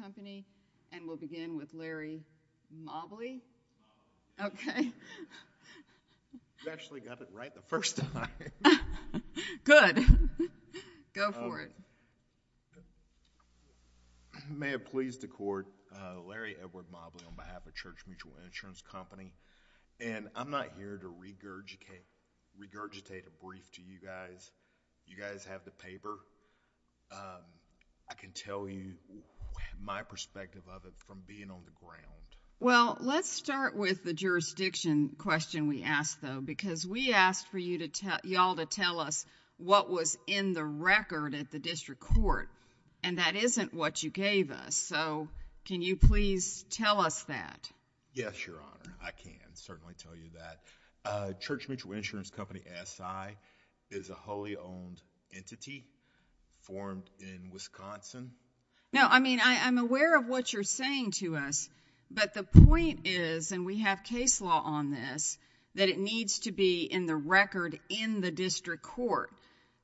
Company, and we'll begin with Larry Mobley. You actually got it right the first time. Good. Go for it. May it please the court, Larry Edward Mobley on behalf of Church Mutual Insurance Company, and I'm not here to regurgitate a brief to you guys. You guys have the paper. I can tell you my perspective of it from being on the ground. Well, let's start with the jurisdiction question we asked, though, because we asked for y'all to tell us what was in the record at the district court, and that isn't what you gave us, so can you please tell us that? Yes, Your Honor. I can certainly tell you that. Church Mutual Insurance Company, SI, is a wholly owned entity formed in Wisconsin. No, I mean, I'm aware of what you're saying to us, but the point is, and we have case law on this, that it needs to be in the record in the district court,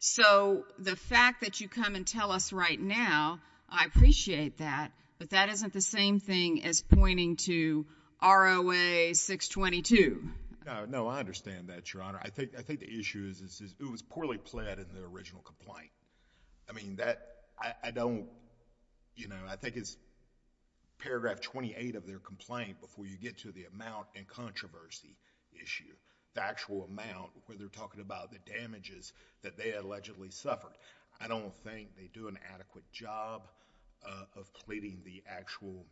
so the fact that you come and tell us right now, I appreciate that, but that isn't the same thing as pointing to ROA 622. No, I understand that, Your Honor. I think the issue is it was poorly pled in the original complaint. I mean, I think it's paragraph 28 of their complaint before you get to the amount and controversy issue, the actual amount where they're talking about the damages that they allegedly suffered. I don't think they do an adequate job of pleading the actual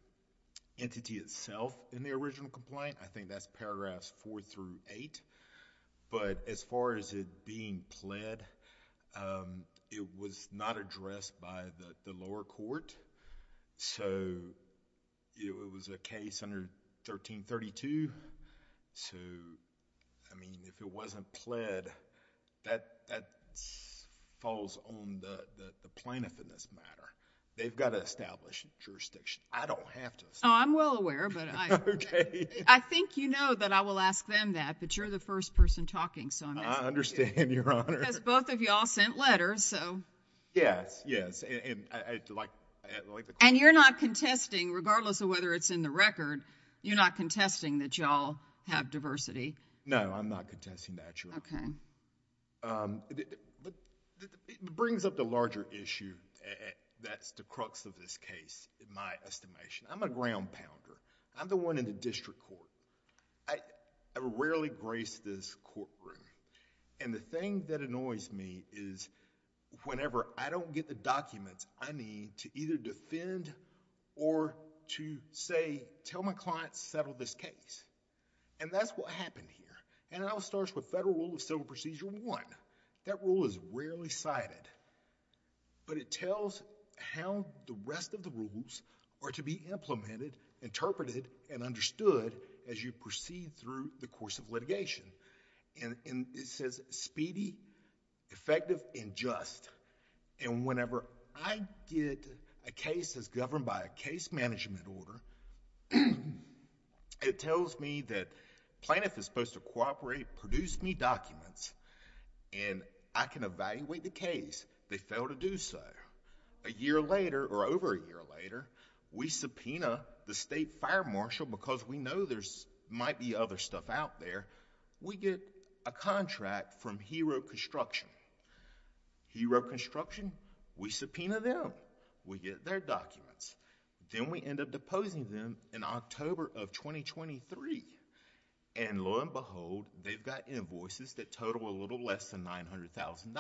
entity itself in the original complaint. I think that's paragraphs four through eight, but as far as it being pled, it was not addressed by the lower court, so it was a case under 1332. So, I mean, if it wasn't pled, that falls on the plaintiff in this matter. They've got to establish jurisdiction. I don't have to establish. Oh, I'm well aware, but I think you know that I will ask them that, but you're the first person talking, so I'm asking you. I understand, Your Honor. Because both of y'all sent letters, so... Yes, yes, and I'd like to... You're not contesting that y'all have diversity. No, I'm not contesting that, Your Honor. It brings up the larger issue that's the crux of this case in my estimation. I'm a ground pounder. I'm the one in the district court. I rarely grace this courtroom, and the thing that annoys me is whenever I don't get the documents I need to either defend or to say, tell my client, settle this case, and that's what happened here. It all starts with Federal Rule of Civil Procedure 1. That rule is rarely cited, but it tells how the rest of the rules are to be implemented, interpreted, and understood as you proceed through the course of litigation. It says speedy, effective, and just, and whenever I get a case that's governed by a case management order, it tells me that Plaintiff is supposed to cooperate, produce me documents, and I can evaluate the case. They fail to do so. A year later, or over a year later, we subpoena the state fire marshal because we know there might be other stuff out there. We get a contract from Hero Construction. Hero Construction, we subpoena them. We get their documents. Then we end up deposing them in October of 2023, and lo and behold, they've got invoices that total a little less than $900,000.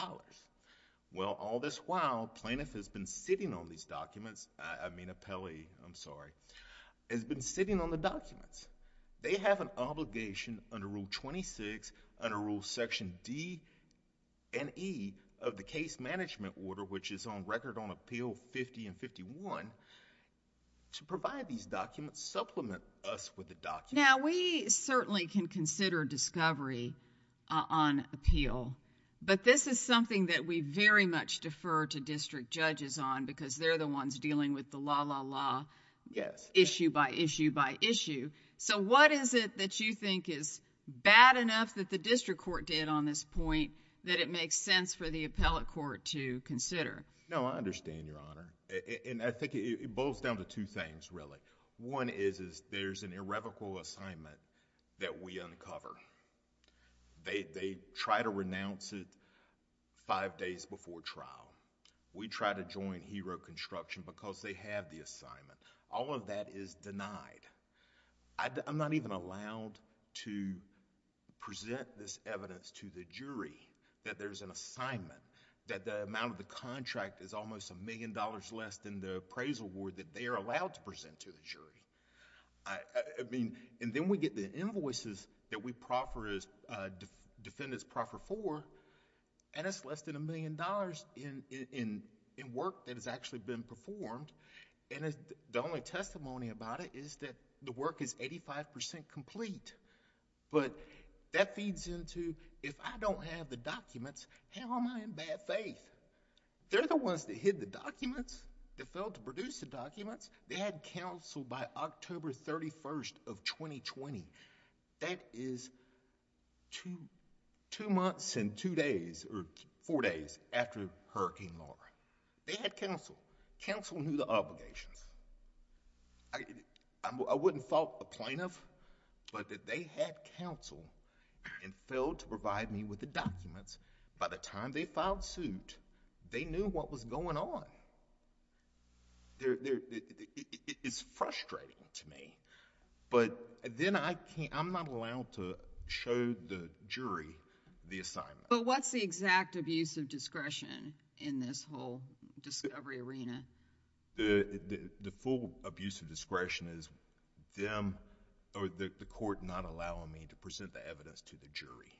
Well, all this while, Plaintiff has been sitting on these documents, I mean appellee, I'm sorry, has been sitting on the documents. They have an obligation under Rule 26, under Rule Section D and E of the case management order, which is on record on Appeal 50 and 51, to provide these documents, supplement us with the documents. Now, we certainly can consider discovery on appeal, but this is something that we very much defer to district judges on because they're the ones dealing with the la, la, la, issue by issue by issue. What is it that you think is bad enough that the district court did on this point that it makes sense for the appellate court to consider? No, I understand, Your Honor. I think it boils down to two things, really. One is there's an irrevocable assignment that we uncover. They try to renounce it five days before trial. We try to join Hero Construction because they have the assignment. All of that is denied. I'm not even allowed to present this evidence to the jury that there's an assignment, that the amount of the contract is almost a million dollars less than the appraisal award that they are allowed to present to the jury. Then we get the invoices that we defend its proffer for, and it's less than a million dollars in work that has actually been performed. The only testimony about it is that the work is eighty-five percent complete. That feeds into, if I don't have the documents, how am I in bad faith? They're the ones that hid the documents, that failed to produce the documents. They had counsel by October 31st of 2020. That is two months and four days after Hurricane Laura. They had counsel. Counsel knew the obligations. I wouldn't fault the plaintiff, but that they had counsel and failed to provide me with the documents. By the time they filed suit, they knew what was going on. It's frustrating to me, but then I'm not allowed to show the jury the assignment. What's the exact abuse of discretion in this whole discovery arena? The full abuse of discretion is the court not allowing me to present the evidence to the jury.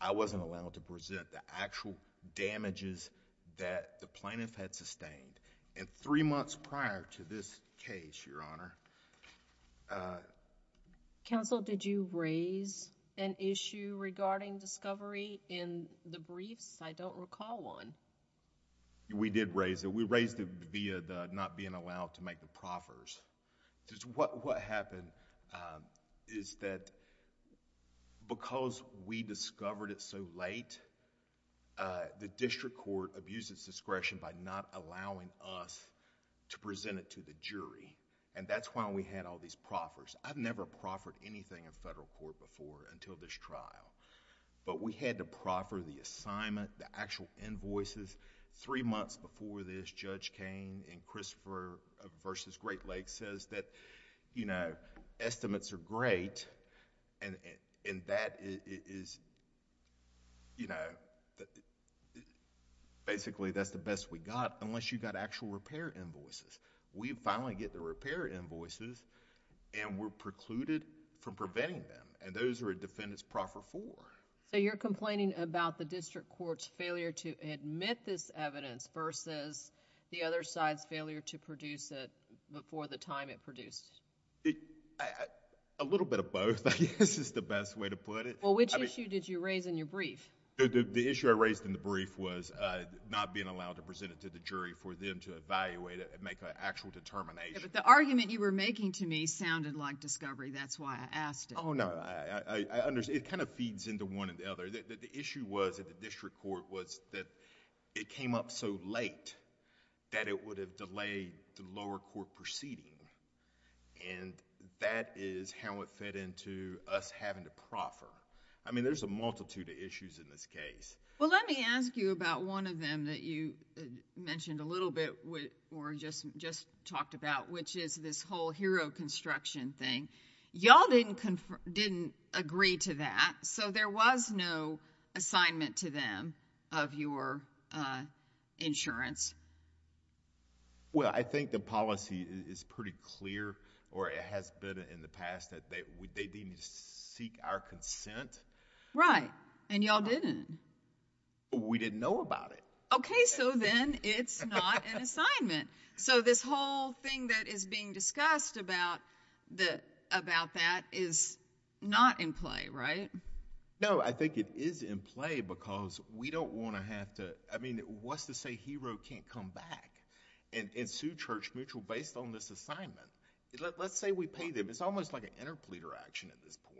I wasn't allowed to present the actual damages that the plaintiff had sustained. Three months prior to this case, Your Honor... Counsel, did you raise an issue regarding discovery in the briefs? I don't recall one. We did raise it. We raised it via the not being allowed to make the proffers. What happened is that because we discovered it so late, the district court abused its discretion by not allowing us to present it to the jury. That's why we had all these proffers. I've never proffered anything in federal court before until this trial. We had to proffer the assignment, the actual invoices. Three months before this, Judge Cain in Christopher v. Great Lakes says that estimates are great and that is... basically, that's the best we got, unless you got actual repair invoices. We finally get the repair invoices and we're precluded from preventing them, and those are a defendant's proffer for. You're complaining about the district court's failure to admit this evidence versus the other side's failure to produce it before the time it produced? A little bit of both, I guess, is the best way to put it. Which issue did you raise in your brief? The issue I raised in the brief was not being allowed to present it to the jury for them to evaluate it and make an actual determination. The argument you were making to me sounded like discovery. That's why I asked it. Oh, no. I understand. It kind of feeds into one and the other. The issue was at the district court was that it came up so late that it would have delayed the lower court proceeding, and that is how it fed into us having to proffer. I mean, there's a multitude of issues in this case. Well, let me ask you about one of them that you mentioned a little bit or just talked about, which is this whole hero construction thing. Y'all didn't agree to that, so there was no assignment to them of your insurance? Well, I think the policy is pretty clear, or it has been in the past, that they didn't seek our consent. Right, and y'all didn't. We didn't know about it. Okay, so then it's not an assignment. This whole thing that is being discussed about that is not in play, right? No, I think it is in play because we don't want to have to... I mean, what's to say hero can't come back and sue Church Mutual based on this assignment? Let's say we pay them. It's almost like an interpleader action at this point.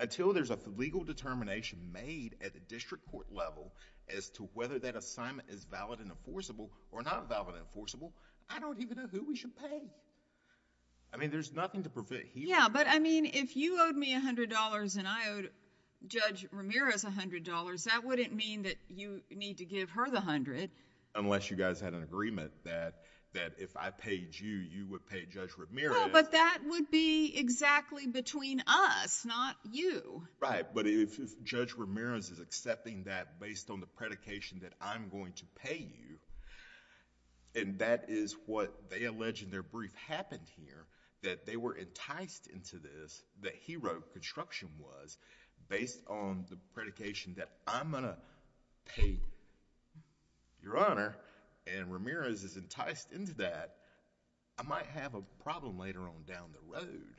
Until there's a legal determination made at the district court level as to whether that assignment is valid and enforceable or not valid and enforceable, I don't even know who we should pay. I mean, there's nothing to prevent hero... Yeah, but I mean, if you owed me $100 and I owed Judge Ramirez $100, that wouldn't mean that you need to give her the $100. Unless you guys had an agreement that if I paid you, you would pay Judge Ramirez. Well, but that would be exactly between us, not you. Right, but if Judge Ramirez is accepting that based on the predication that I'm going to pay you, and that is what they allege in their brief happened here, that they were enticed into this, that hero construction was, based on the predication that I'm going to pay Your Honor, and Ramirez is enticed into that, I might have a problem later on down the road.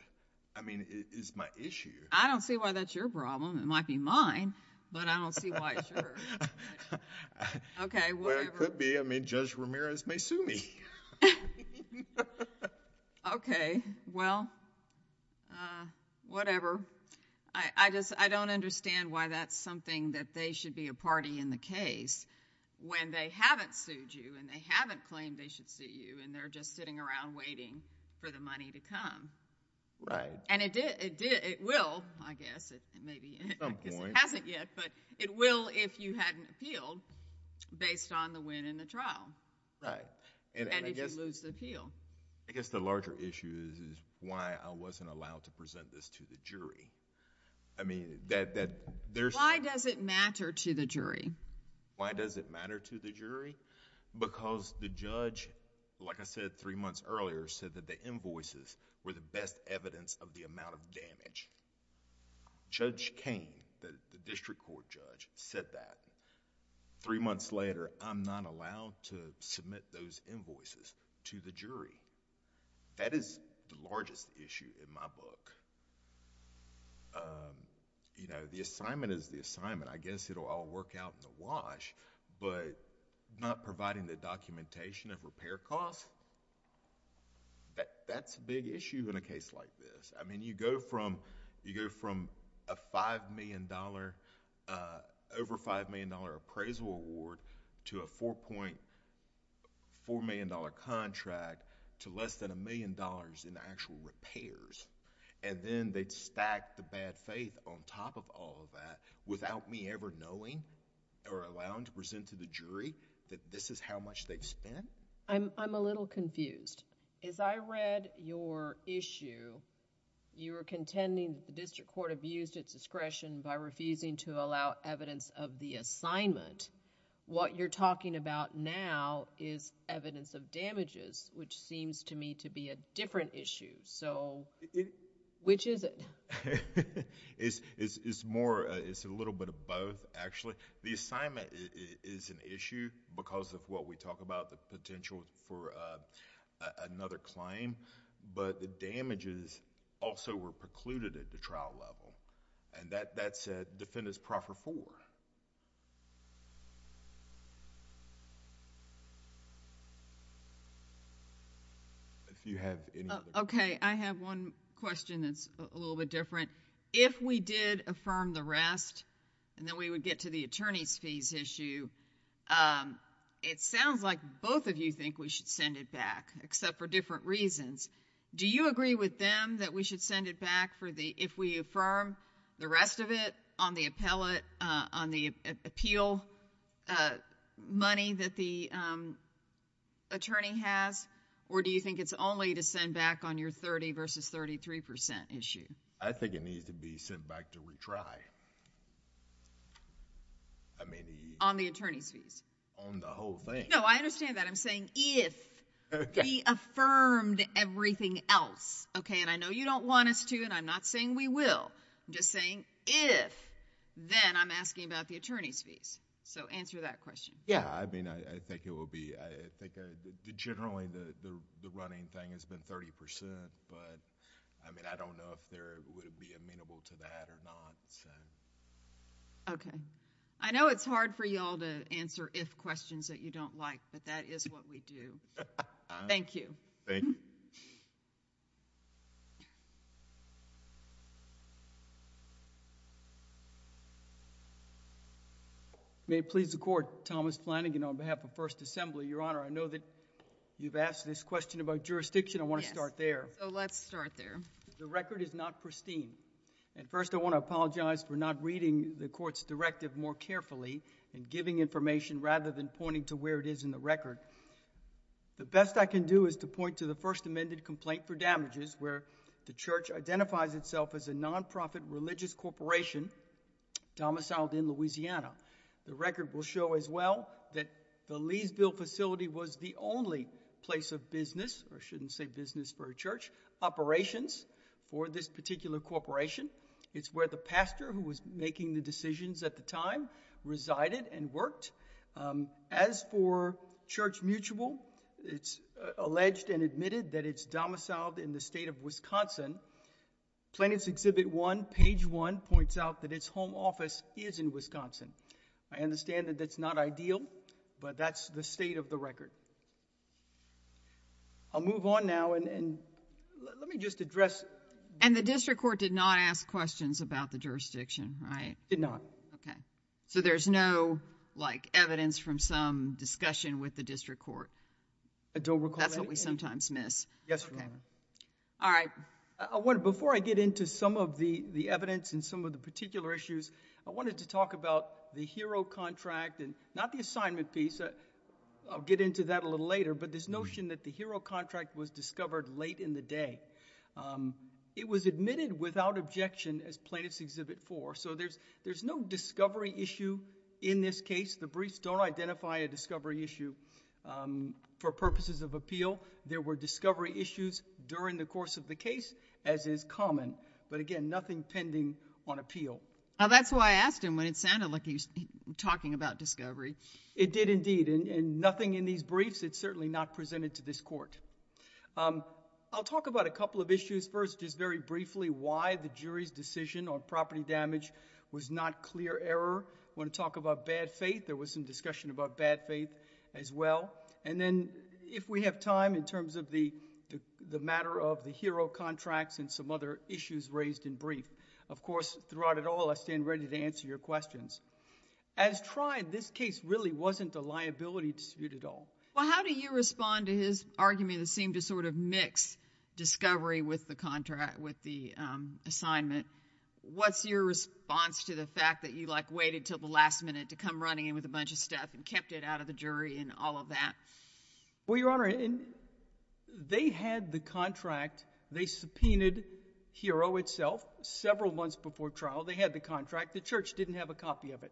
I mean, it is my issue. I don't see why that's your problem. It might be mine, but I don't see why it's your concern. Well, it could be. I mean, Judge Ramirez may sue me. Okay. Well, whatever. I don't understand why that's something that they should be a party in the case when they haven't sued you, and they haven't claimed they should sue you, and they're just sitting around waiting for the money to come. Right. And it will, I guess. Maybe it hasn't yet, but it will if you hadn't appealed based on the win in the trial, and if you lose the appeal. I guess the larger issue is why I wasn't allowed to present this to the jury. I mean, that... Why does it matter to the jury? Why does it matter to the jury? Because the judge, like I said three months earlier, said that the invoices were the best evidence of the amount of damage. Judge Cain, the district court judge, said that. Three months later, I'm not allowed to submit those invoices to the jury. That is the largest issue in my book. The assignment is the assignment. I guess it will all work out in the wash, but not providing the documentation of repair costs? That's a big issue in a case like this. I mean, you go from a five million dollar, over five million dollar appraisal award to a $4.4 million contract to less than a million dollars in actual repairs, and then they stack the bad faith on top of all of that without me ever knowing or allowing to present to the jury that this is how much they've spent? I'm a little confused. As I read your issue, you were contending the district court abused its discretion by refusing to allow evidence of the assignment. What you're talking about now is evidence of damages, which seems to me to be a different issue. Which is it? It's more, it's a little bit of both actually. The assignment is an issue because of what we talk about, the potential for another claim, but the damages also were precluded at the trial level, and that's Defendant's proffer four. If you have anything... Okay, I have one question that's a little bit different. If we did affirm the rest, and then we would get to the attorney's fees issue, it sounds like both of you think we should send it back, except for different reasons. Do you agree with them that we should send it back for the, if we affirm the rest of it on the appellate, on the appeal money that the attorney has, or do you think it's only to send back on your thirty versus thirty-three percent issue? I think it needs to be sent back to retry. I mean... On the attorney's fees? On the whole thing. No, I understand that. I'm saying if we affirmed everything else, and I know you don't want us to, and I'm not saying we will. I'm just saying if, then I'm asking about the attorney's fees, so answer that question. Yeah, I mean, I think it will be... I think generally the running thing has been thirty percent, but I mean, I don't know if there would be amenable to that or not, so... Okay. I know it's hard for you all to answer if questions that you don't like, but that is what we do. Thank you. Thank you. May it please the Court, Thomas Flanagan on behalf of First Assembly. Your Honor, I know that you've asked this question about jurisdiction. I want to start there. Let's start there. The record is not pristine, and first I want to apologize for not reading the Court's directive more carefully and giving information rather than pointing to where it is in the record. The best I can do is to point to the first amended complaint for damages where the Church identifies itself as a non-profit religious corporation domiciled in Louisiana. The record will show as well that the Leesville facility was the only place of business, or I shouldn't say business for a church, operations for this particular corporation. It's where the pastor who was making the decisions at the time resided and worked. As for Church Mutual, it's alleged and admitted that it's domiciled in the state of Wisconsin. Plaintiff's Exhibit 1, page 1 points out that its home office is in Wisconsin. I understand that that's not ideal, but that's the state of the record. I'll move on now, and let me just address... And the district court did not ask questions about the jurisdiction, right? Did not. Okay. So there's no, like, evidence from some discussion with the district court? I don't recall. That's what we sometimes miss. Yes, Your Honor. All right. Before I get into some of the evidence and some of the particular issues, I wanted to talk about the HERO contract and not the assignment piece. I'll get into that a little later, but this notion that the HERO contract was discovered late in the day. It was admitted without objection as Plaintiff's Exhibit 4. So there's no discovery issue in this case. The briefs don't identify a discovery issue. For purposes of appeal, there were discovery issues during the course of the case, as is common. But again, nothing pending on appeal. That's why I asked him when it sounded like he was talking about discovery. It did indeed, and nothing in these briefs. It's certainly not presented to this court. I'll talk about a couple of issues first, just very briefly, why the jury's decision on property damage was not clear error. I want to talk about bad faith. There was some discussion about bad faith as well. And then if we have time, in terms of the matter of the HERO contracts and some other issues raised in brief. Of course, throughout it all, I stand ready to answer your questions. As tried, this case really wasn't a liability dispute at all. Well, how do you respond to his argument that sort of mixed discovery with the assignment? What's your response to the fact that you waited until the last minute to come running in with a bunch of stuff and kept it out of the jury and all of that? Well, Your Honor, they had the contract. They subpoenaed HERO itself several months before trial. They had the contract. The church didn't have a copy of it,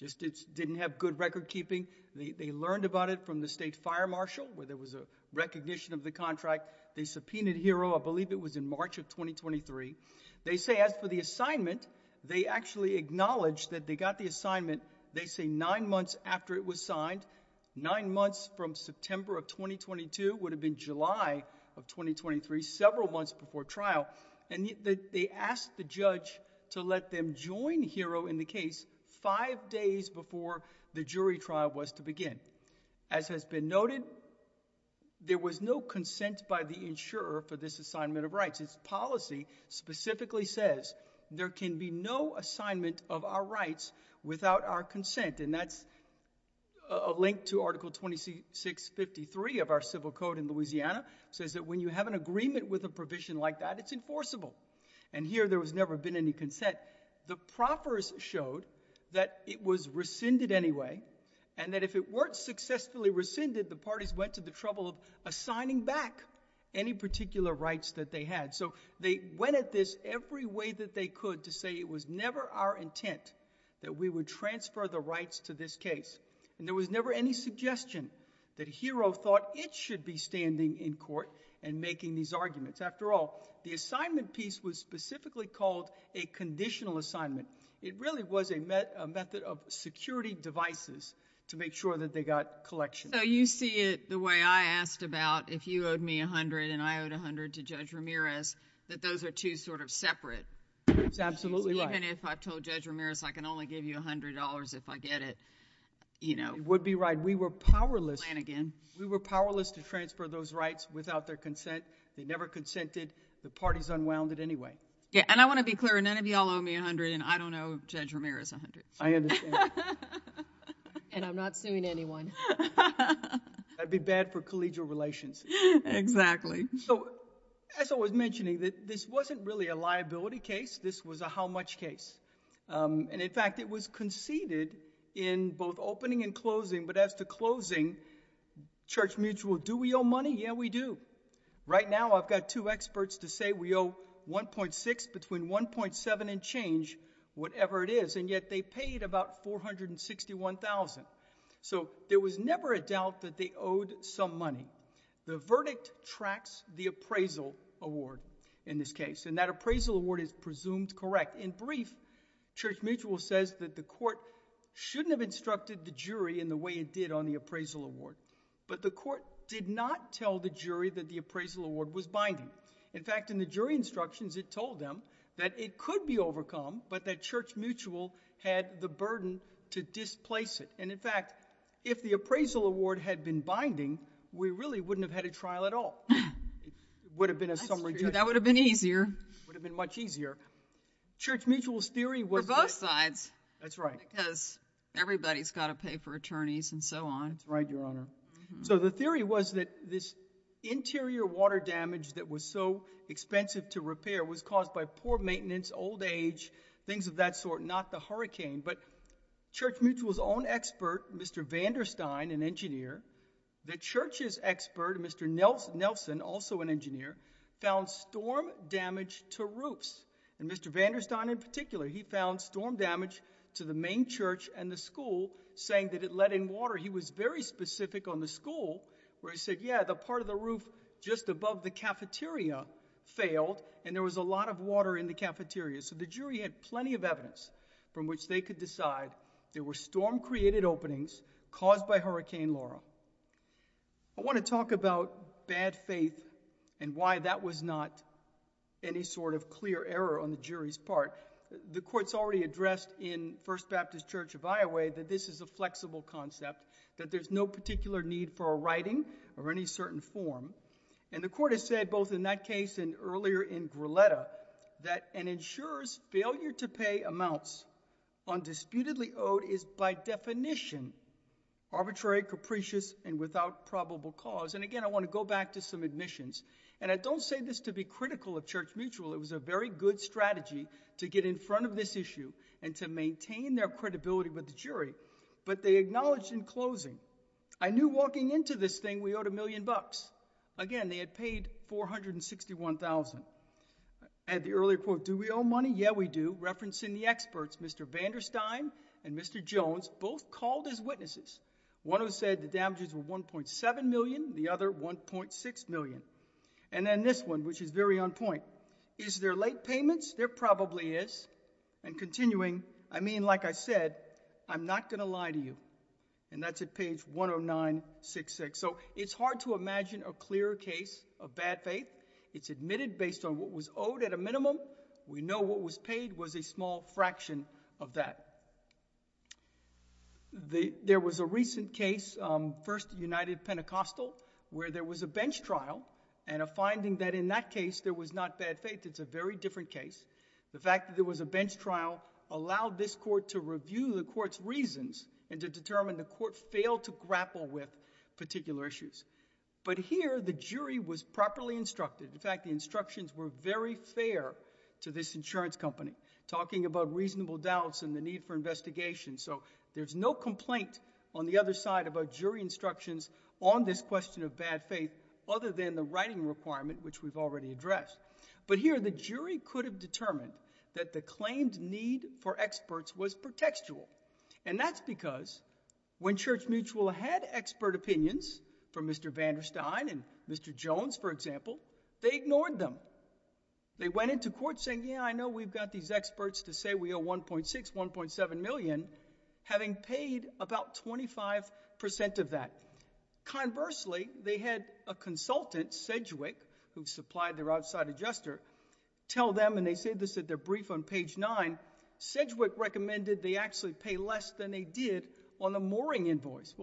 just didn't have good record keeping. They learned about it from the state fire marshal, where there was a recognition of the contract. They subpoenaed HERO. I believe it was in March of 2023. They say, as for the assignment, they actually acknowledged that they got the assignment, they say, nine months after it was signed. Nine months from September of 2022 would have been July of 2023, several months before trial. And they asked the judge to let them join HERO in the case five days before the jury trial was to begin. As has been noted, there was no consent by the insurer for this assignment of rights. Its policy specifically says there can be no assignment of our rights without our consent. And that's a link to Article 2653 of our Civil Code in Louisiana. It says that when you have an agreement with a provision like that, it's enforceable. And here there has never been any consent. The proffers showed that it was rescinded anyway, and that if it weren't successfully rescinded, the parties went to the trouble of assigning back any particular rights that they had. So they went at this every way that they could to say it was never our intent that we would transfer the rights to this case. And there was never any suggestion that HERO thought it should be standing in court and making these arguments. After all, the assignment piece was specifically called a conditional assignment. It really was a method of security devices to make sure that they got collection. So you see it the way I asked about if you owed me a hundred and I owed a hundred to Judge Ramirez, that those are two sort of separate... That's absolutely right. Even if I told Judge Ramirez I can only give you a hundred dollars if I get it, you know... It would be right. We were powerless... Plan again. We were powerless to transfer those rights without their consent. They never consented. The parties unwound it anyway. Yeah, and I want to be clear. None of y'all owe me a hundred, and I don't owe Judge Ramirez a hundred. I understand. And I'm not suing anyone. That'd be bad for collegial relations. Exactly. So as I was mentioning, this wasn't really a liability case. This was a how-much case. And in fact, it was conceded in both opening and closing, but as to closing, Church Mutual, do we owe money? Yeah, we do. Right now, I've got two experts to say we owe 1.6 between 1.7 and change, whatever it is, and yet they paid about $461,000. So there was never a doubt that they owed some money. The verdict tracks the appraisal award in this case, and that appraisal award is presumed correct. In brief, Church Mutual says that the court shouldn't have instructed the jury in the way it did on the appraisal award, but the court did not tell the jury that the appraisal award was binding. In fact, in the jury instructions, it told them that it could be overcome, but that Church Mutual had the burden to displace it. And in fact, if the appraisal award had been binding, we really wouldn't have had a trial at all. It would have been a summary judgment. That would have been easier. Would have been much easier. Church Mutual's theory was that— For both sides. That's right. Because everybody's got to pay for attorneys and so on. That's right, Your Honor. So the theory was that this interior water damage that was so expensive to repair was caused by poor maintenance, old age, things of that sort, not the hurricane. But Church Mutual's own expert, Mr. Vanderstein, an engineer, the Church's expert, Mr. Nelson, also an engineer, found storm damage to roofs. And Mr. Vanderstein in particular, he found storm damage to the main church and the school, saying that it led in water. He was very specific on the school, where he said, yeah, the part of the roof just above the cafeteria failed and there was a lot of water in the cafeteria. So the jury had plenty of evidence from which they could decide there were storm-created openings caused by Hurricane Laura. I want to talk about bad faith and why that was not any sort of clear error on the jury's part. The court's already addressed in First Baptist Church of Iowa that this is a flexible concept, that there's no particular need for a certain form. And the court has said, both in that case and earlier in Gruletta, that an insurer's failure to pay amounts undisputedly owed is by definition arbitrary, capricious, and without probable cause. And again, I want to go back to some admissions. And I don't say this to be critical of Church Mutual. It was a very good strategy to get in front of this issue and to maintain their credibility with the jury. But they acknowledged in closing, I knew walking into this thing we owed a million bucks. Again, they had paid $461,000. I had the earlier quote, do we owe money? Yeah, we do. Referencing the experts, Mr. Vander Stein and Mr. Jones both called as witnesses. One of them said the damages were $1.7 million, the other $1.6 million. And then this one, which is very on point, is there late payments? There probably is. And continuing, I mean, like I said, I'm not going to lie to you. And that's at page 10966. So it's hard to imagine a clearer case of bad faith. It's admitted based on what was owed at a minimum. We know what was paid was a small fraction of that. There was a recent case, First United Pentecostal, where there was a bench trial and a finding that in that case, there was not bad faith. It's a very different case. The fact that there was a bench trial allowed this court to review the court's reasons and to determine the court failed to grapple with particular issues. But here, the jury was properly instructed. In fact, the instructions were very fair to this insurance company, talking about reasonable doubts and the need for investigation. So there's no complaint on the other side about jury instructions on this question of bad faith, other than the writing requirement, which we've already addressed. But here, the jury could have determined that the claimed need for experts was pretextual. And that's because when Church Mutual had expert opinions from Mr. Vanderstein and Mr. Jones, for example, they ignored them. They went into court saying, yeah, I know we've got these experts to say we owe 1.6, 1.7 million, having paid about 25% of that. Conversely, they had a consultant, Sedgwick, who supplied their outside adjuster, tell them, and they say this at their brief on page nine, Sedgwick recommended they actually pay less than they did on the mooring invoice.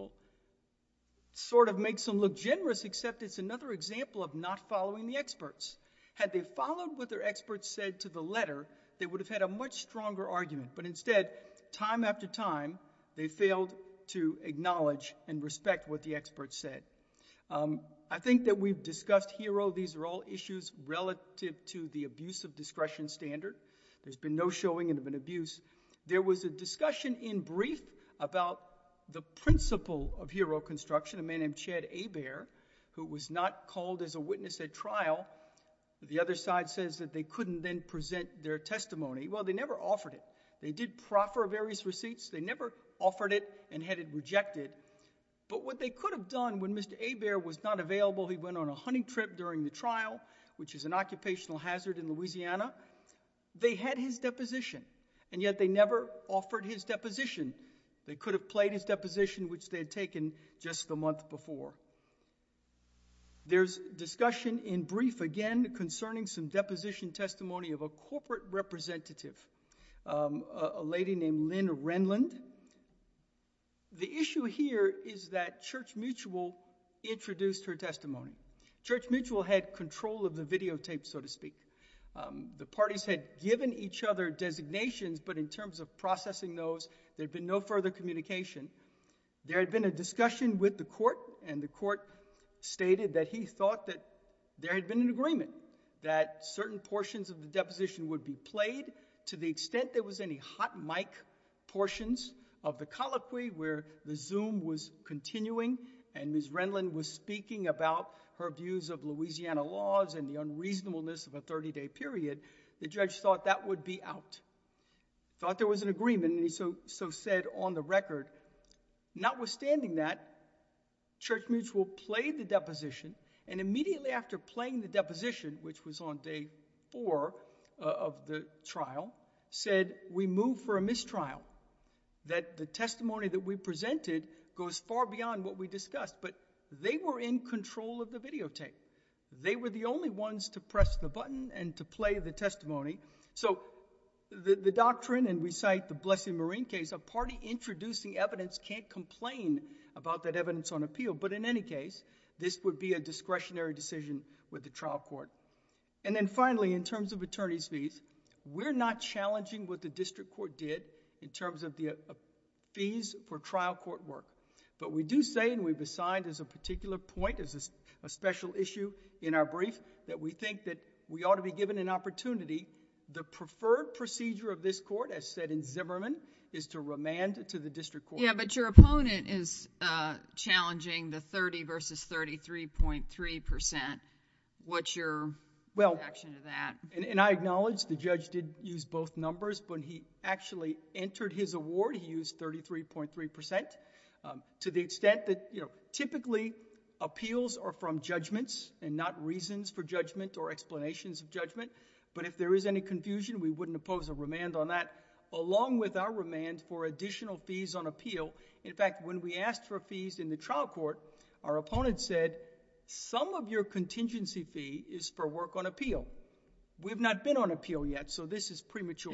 Sort of makes them look generous, except it's another example of not following the experts. Had they followed what their experts said to the letter, they would have had a much stronger argument. But instead, time after time, they failed to acknowledge and respect what the experts said. I think that we've discussed HERO. These are all issues relative to the abuse of discretion standard. There's been no showing of an abuse. There was a discussion in brief about the principle of HERO construction, a man named Chad Hebert, who was not called as a witness at trial. The other side says that they couldn't then present their testimony. Well, they never offered it. They did proffer various receipts. They never offered it and had it rejected. But what they could have done when Mr. Hebert was not available, he went on a hunting trip during the trial, which is an occupational hazard in Louisiana. They had his deposition and yet they never offered his deposition. They could have played his deposition, which they had taken just the month before. There's discussion in brief again concerning some deposition testimony of a corporate representative, a lady named Lynn Renlund. The issue here is that Church Mutual introduced her testimony. Church Mutual had control of the videotape, so to speak. The parties had given each other designations, but in terms of processing those, there'd been no further communication. There had been a discussion with the court and the court stated that he thought that there had been an agreement that certain portions of the deposition would be played to the extent there was any hot mic portions of the colloquy where the zoom was continuing and Ms. Renlund was speaking about her views of Louisiana laws and the unreasonableness of a 30-day period. The judge thought that would be out. Thought there was an agreement and he so said on the record. Notwithstanding that, Church Mutual played the deposition and immediately after playing the deposition, which was on day four of the trial, said we move for a mistrial. That the testimony that we presented goes far beyond what we discussed, but they were in control of the videotape. They were the only ones to press the button and to play the testimony. So the doctrine, and we cite the Blessing Marine case, a party evidence on appeal, but in any case, this would be a discretionary decision with the trial court. And then finally, in terms of attorney's fees, we're not challenging what the district court did in terms of the fees for trial court work, but we do say and we've assigned as a particular point, as a special issue in our brief, that we think that we ought to be given an opportunity. The preferred procedure of this court, as said in Zimmerman, is to remand to the district court. Yeah, but your opponent is challenging the 30 versus 33.3%. What's your reaction to that? Well, and I acknowledge the judge did use both numbers, but when he actually entered his award, he used 33.3% to the extent that typically appeals are from judgments and not reasons for judgment or explanations of judgment, but if there is any confusion, we wouldn't oppose a remand on that, along with our remand for additional fees on appeal. In fact, when we asked for fees in the trial court, our opponent said, some of your contingency fee is for work on appeal. We've not been on appeal yet, so this is premature.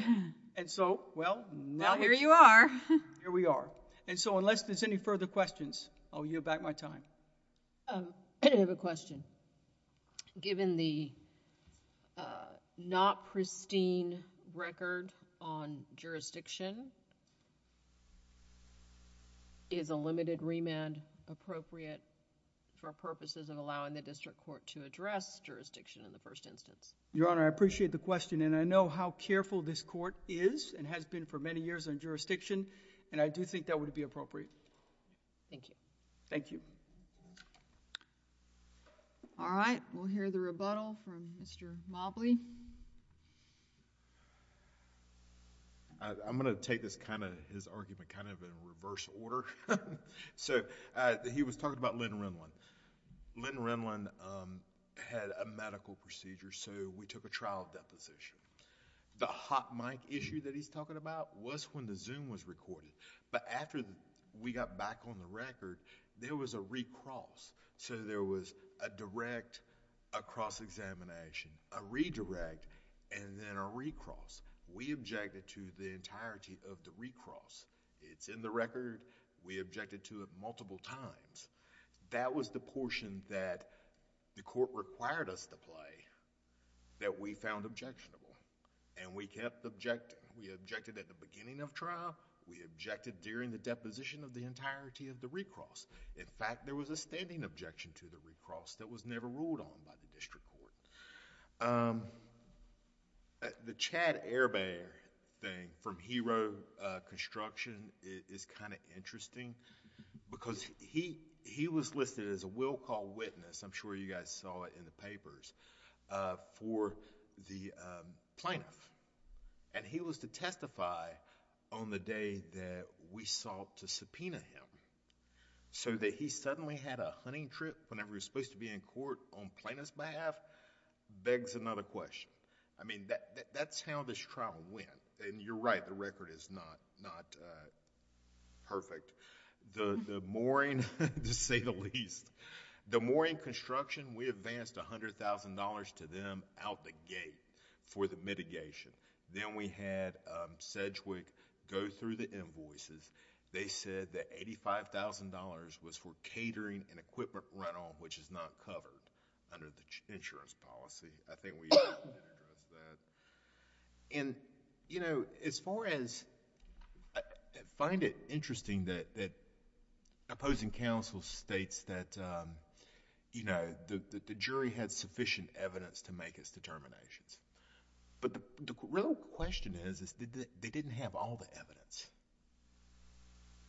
And so, well, now here you are. Here we are. And so, unless there's any further questions, I'll yield back my time. I have a question. Given the not pristine record on jurisdiction, is a limited remand appropriate for purposes of allowing the district court to address jurisdiction in the first instance? Your Honor, I appreciate the question, and I know how careful this court is and has been for many years on jurisdiction, and I do think that would be appropriate. Thank you. Thank you. All right. We'll hear the rebuttal from Mr. Mobley. I'm going to take his argument kind of in reverse order. He was talking about Lynn Renlund. Lynn Renlund had a medical procedure, so we took a trial deposition. The hot mic issue that he's talking about was when the Zoom was recorded. But after we got back on the record, there was a recross, so there was a direct, a cross-examination, a redirect, and then a recross. We objected to the entirety of the recross. It's in the record. We objected to it multiple times. That was the portion that the court required us to play that we found objectionable. We objected at the beginning of trial. We objected during the deposition of the entirety of the recross. In fact, there was a standing objection to the recross that was never ruled on by the district court. The Chad Ehrbacher thing from Hero Construction is kind of interesting because he was listed as a willful witness. I'm sure you guys saw it in the record, for the plaintiff. He was to testify on the day that we sought to subpoena him, so that he suddenly had a hunting trip whenever he was supposed to be in court on plaintiff's behalf begs another question. That's how this trial went. You're right, the record is not perfect. The mooring, to say the gate for the mitigation. Then we had Sedgwick go through the invoices. They said that $85,000 was for catering and equipment runoff, which is not covered under the insurance policy. I think we... As far as... I find it interesting that opposing counsel states that the jury had sufficient evidence to make its determinations. The real question is, they didn't have all the evidence.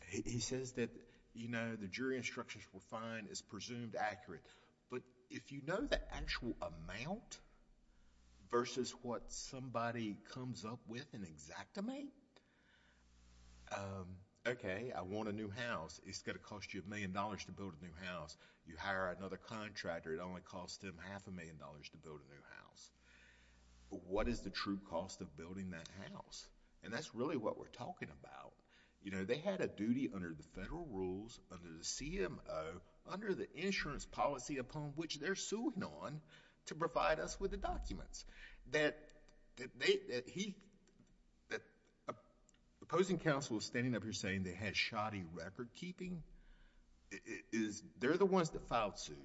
He says that the jury instructions were fine, it's presumed accurate, but if you know the actual amount versus what somebody comes up with in exact amount, okay, I want a new house. It's going to cost you a million dollars to build a new house. You hire another contractor, it only costs them half a million dollars to build a new house. What is the true cost of building that house? That's really what we're talking about. They had a duty under the federal rules, under the CMO, under the insurance policy upon which they're suing on to provide us with the documents. The opposing counsel is standing up here saying they had shoddy recordkeeping. They're the ones that filed suit.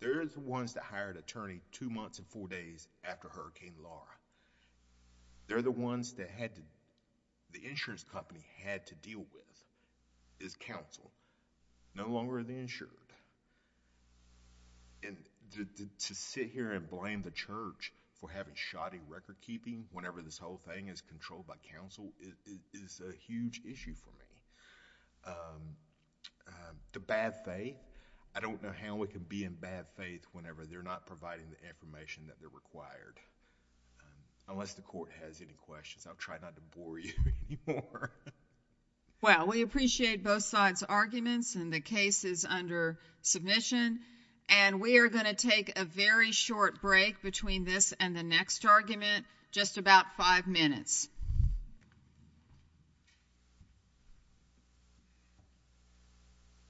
They're the ones that hired attorney two months and four days after Hurricane Laura. They're the ones that had... the insurance company had to deal with. It's counsel. No longer are they insured. To sit here and blame the church for having shoddy recordkeeping whenever this whole thing is controlled by counsel is a huge issue for me. The bad faith, I don't know how we can be in bad faith whenever they're not providing the information that they're required. Unless the court has any questions, I'll try not to bore you anymore. Well, we appreciate both sides' arguments and the cases under submission. We are going to take a very short break between this and the next argument, just about five minutes.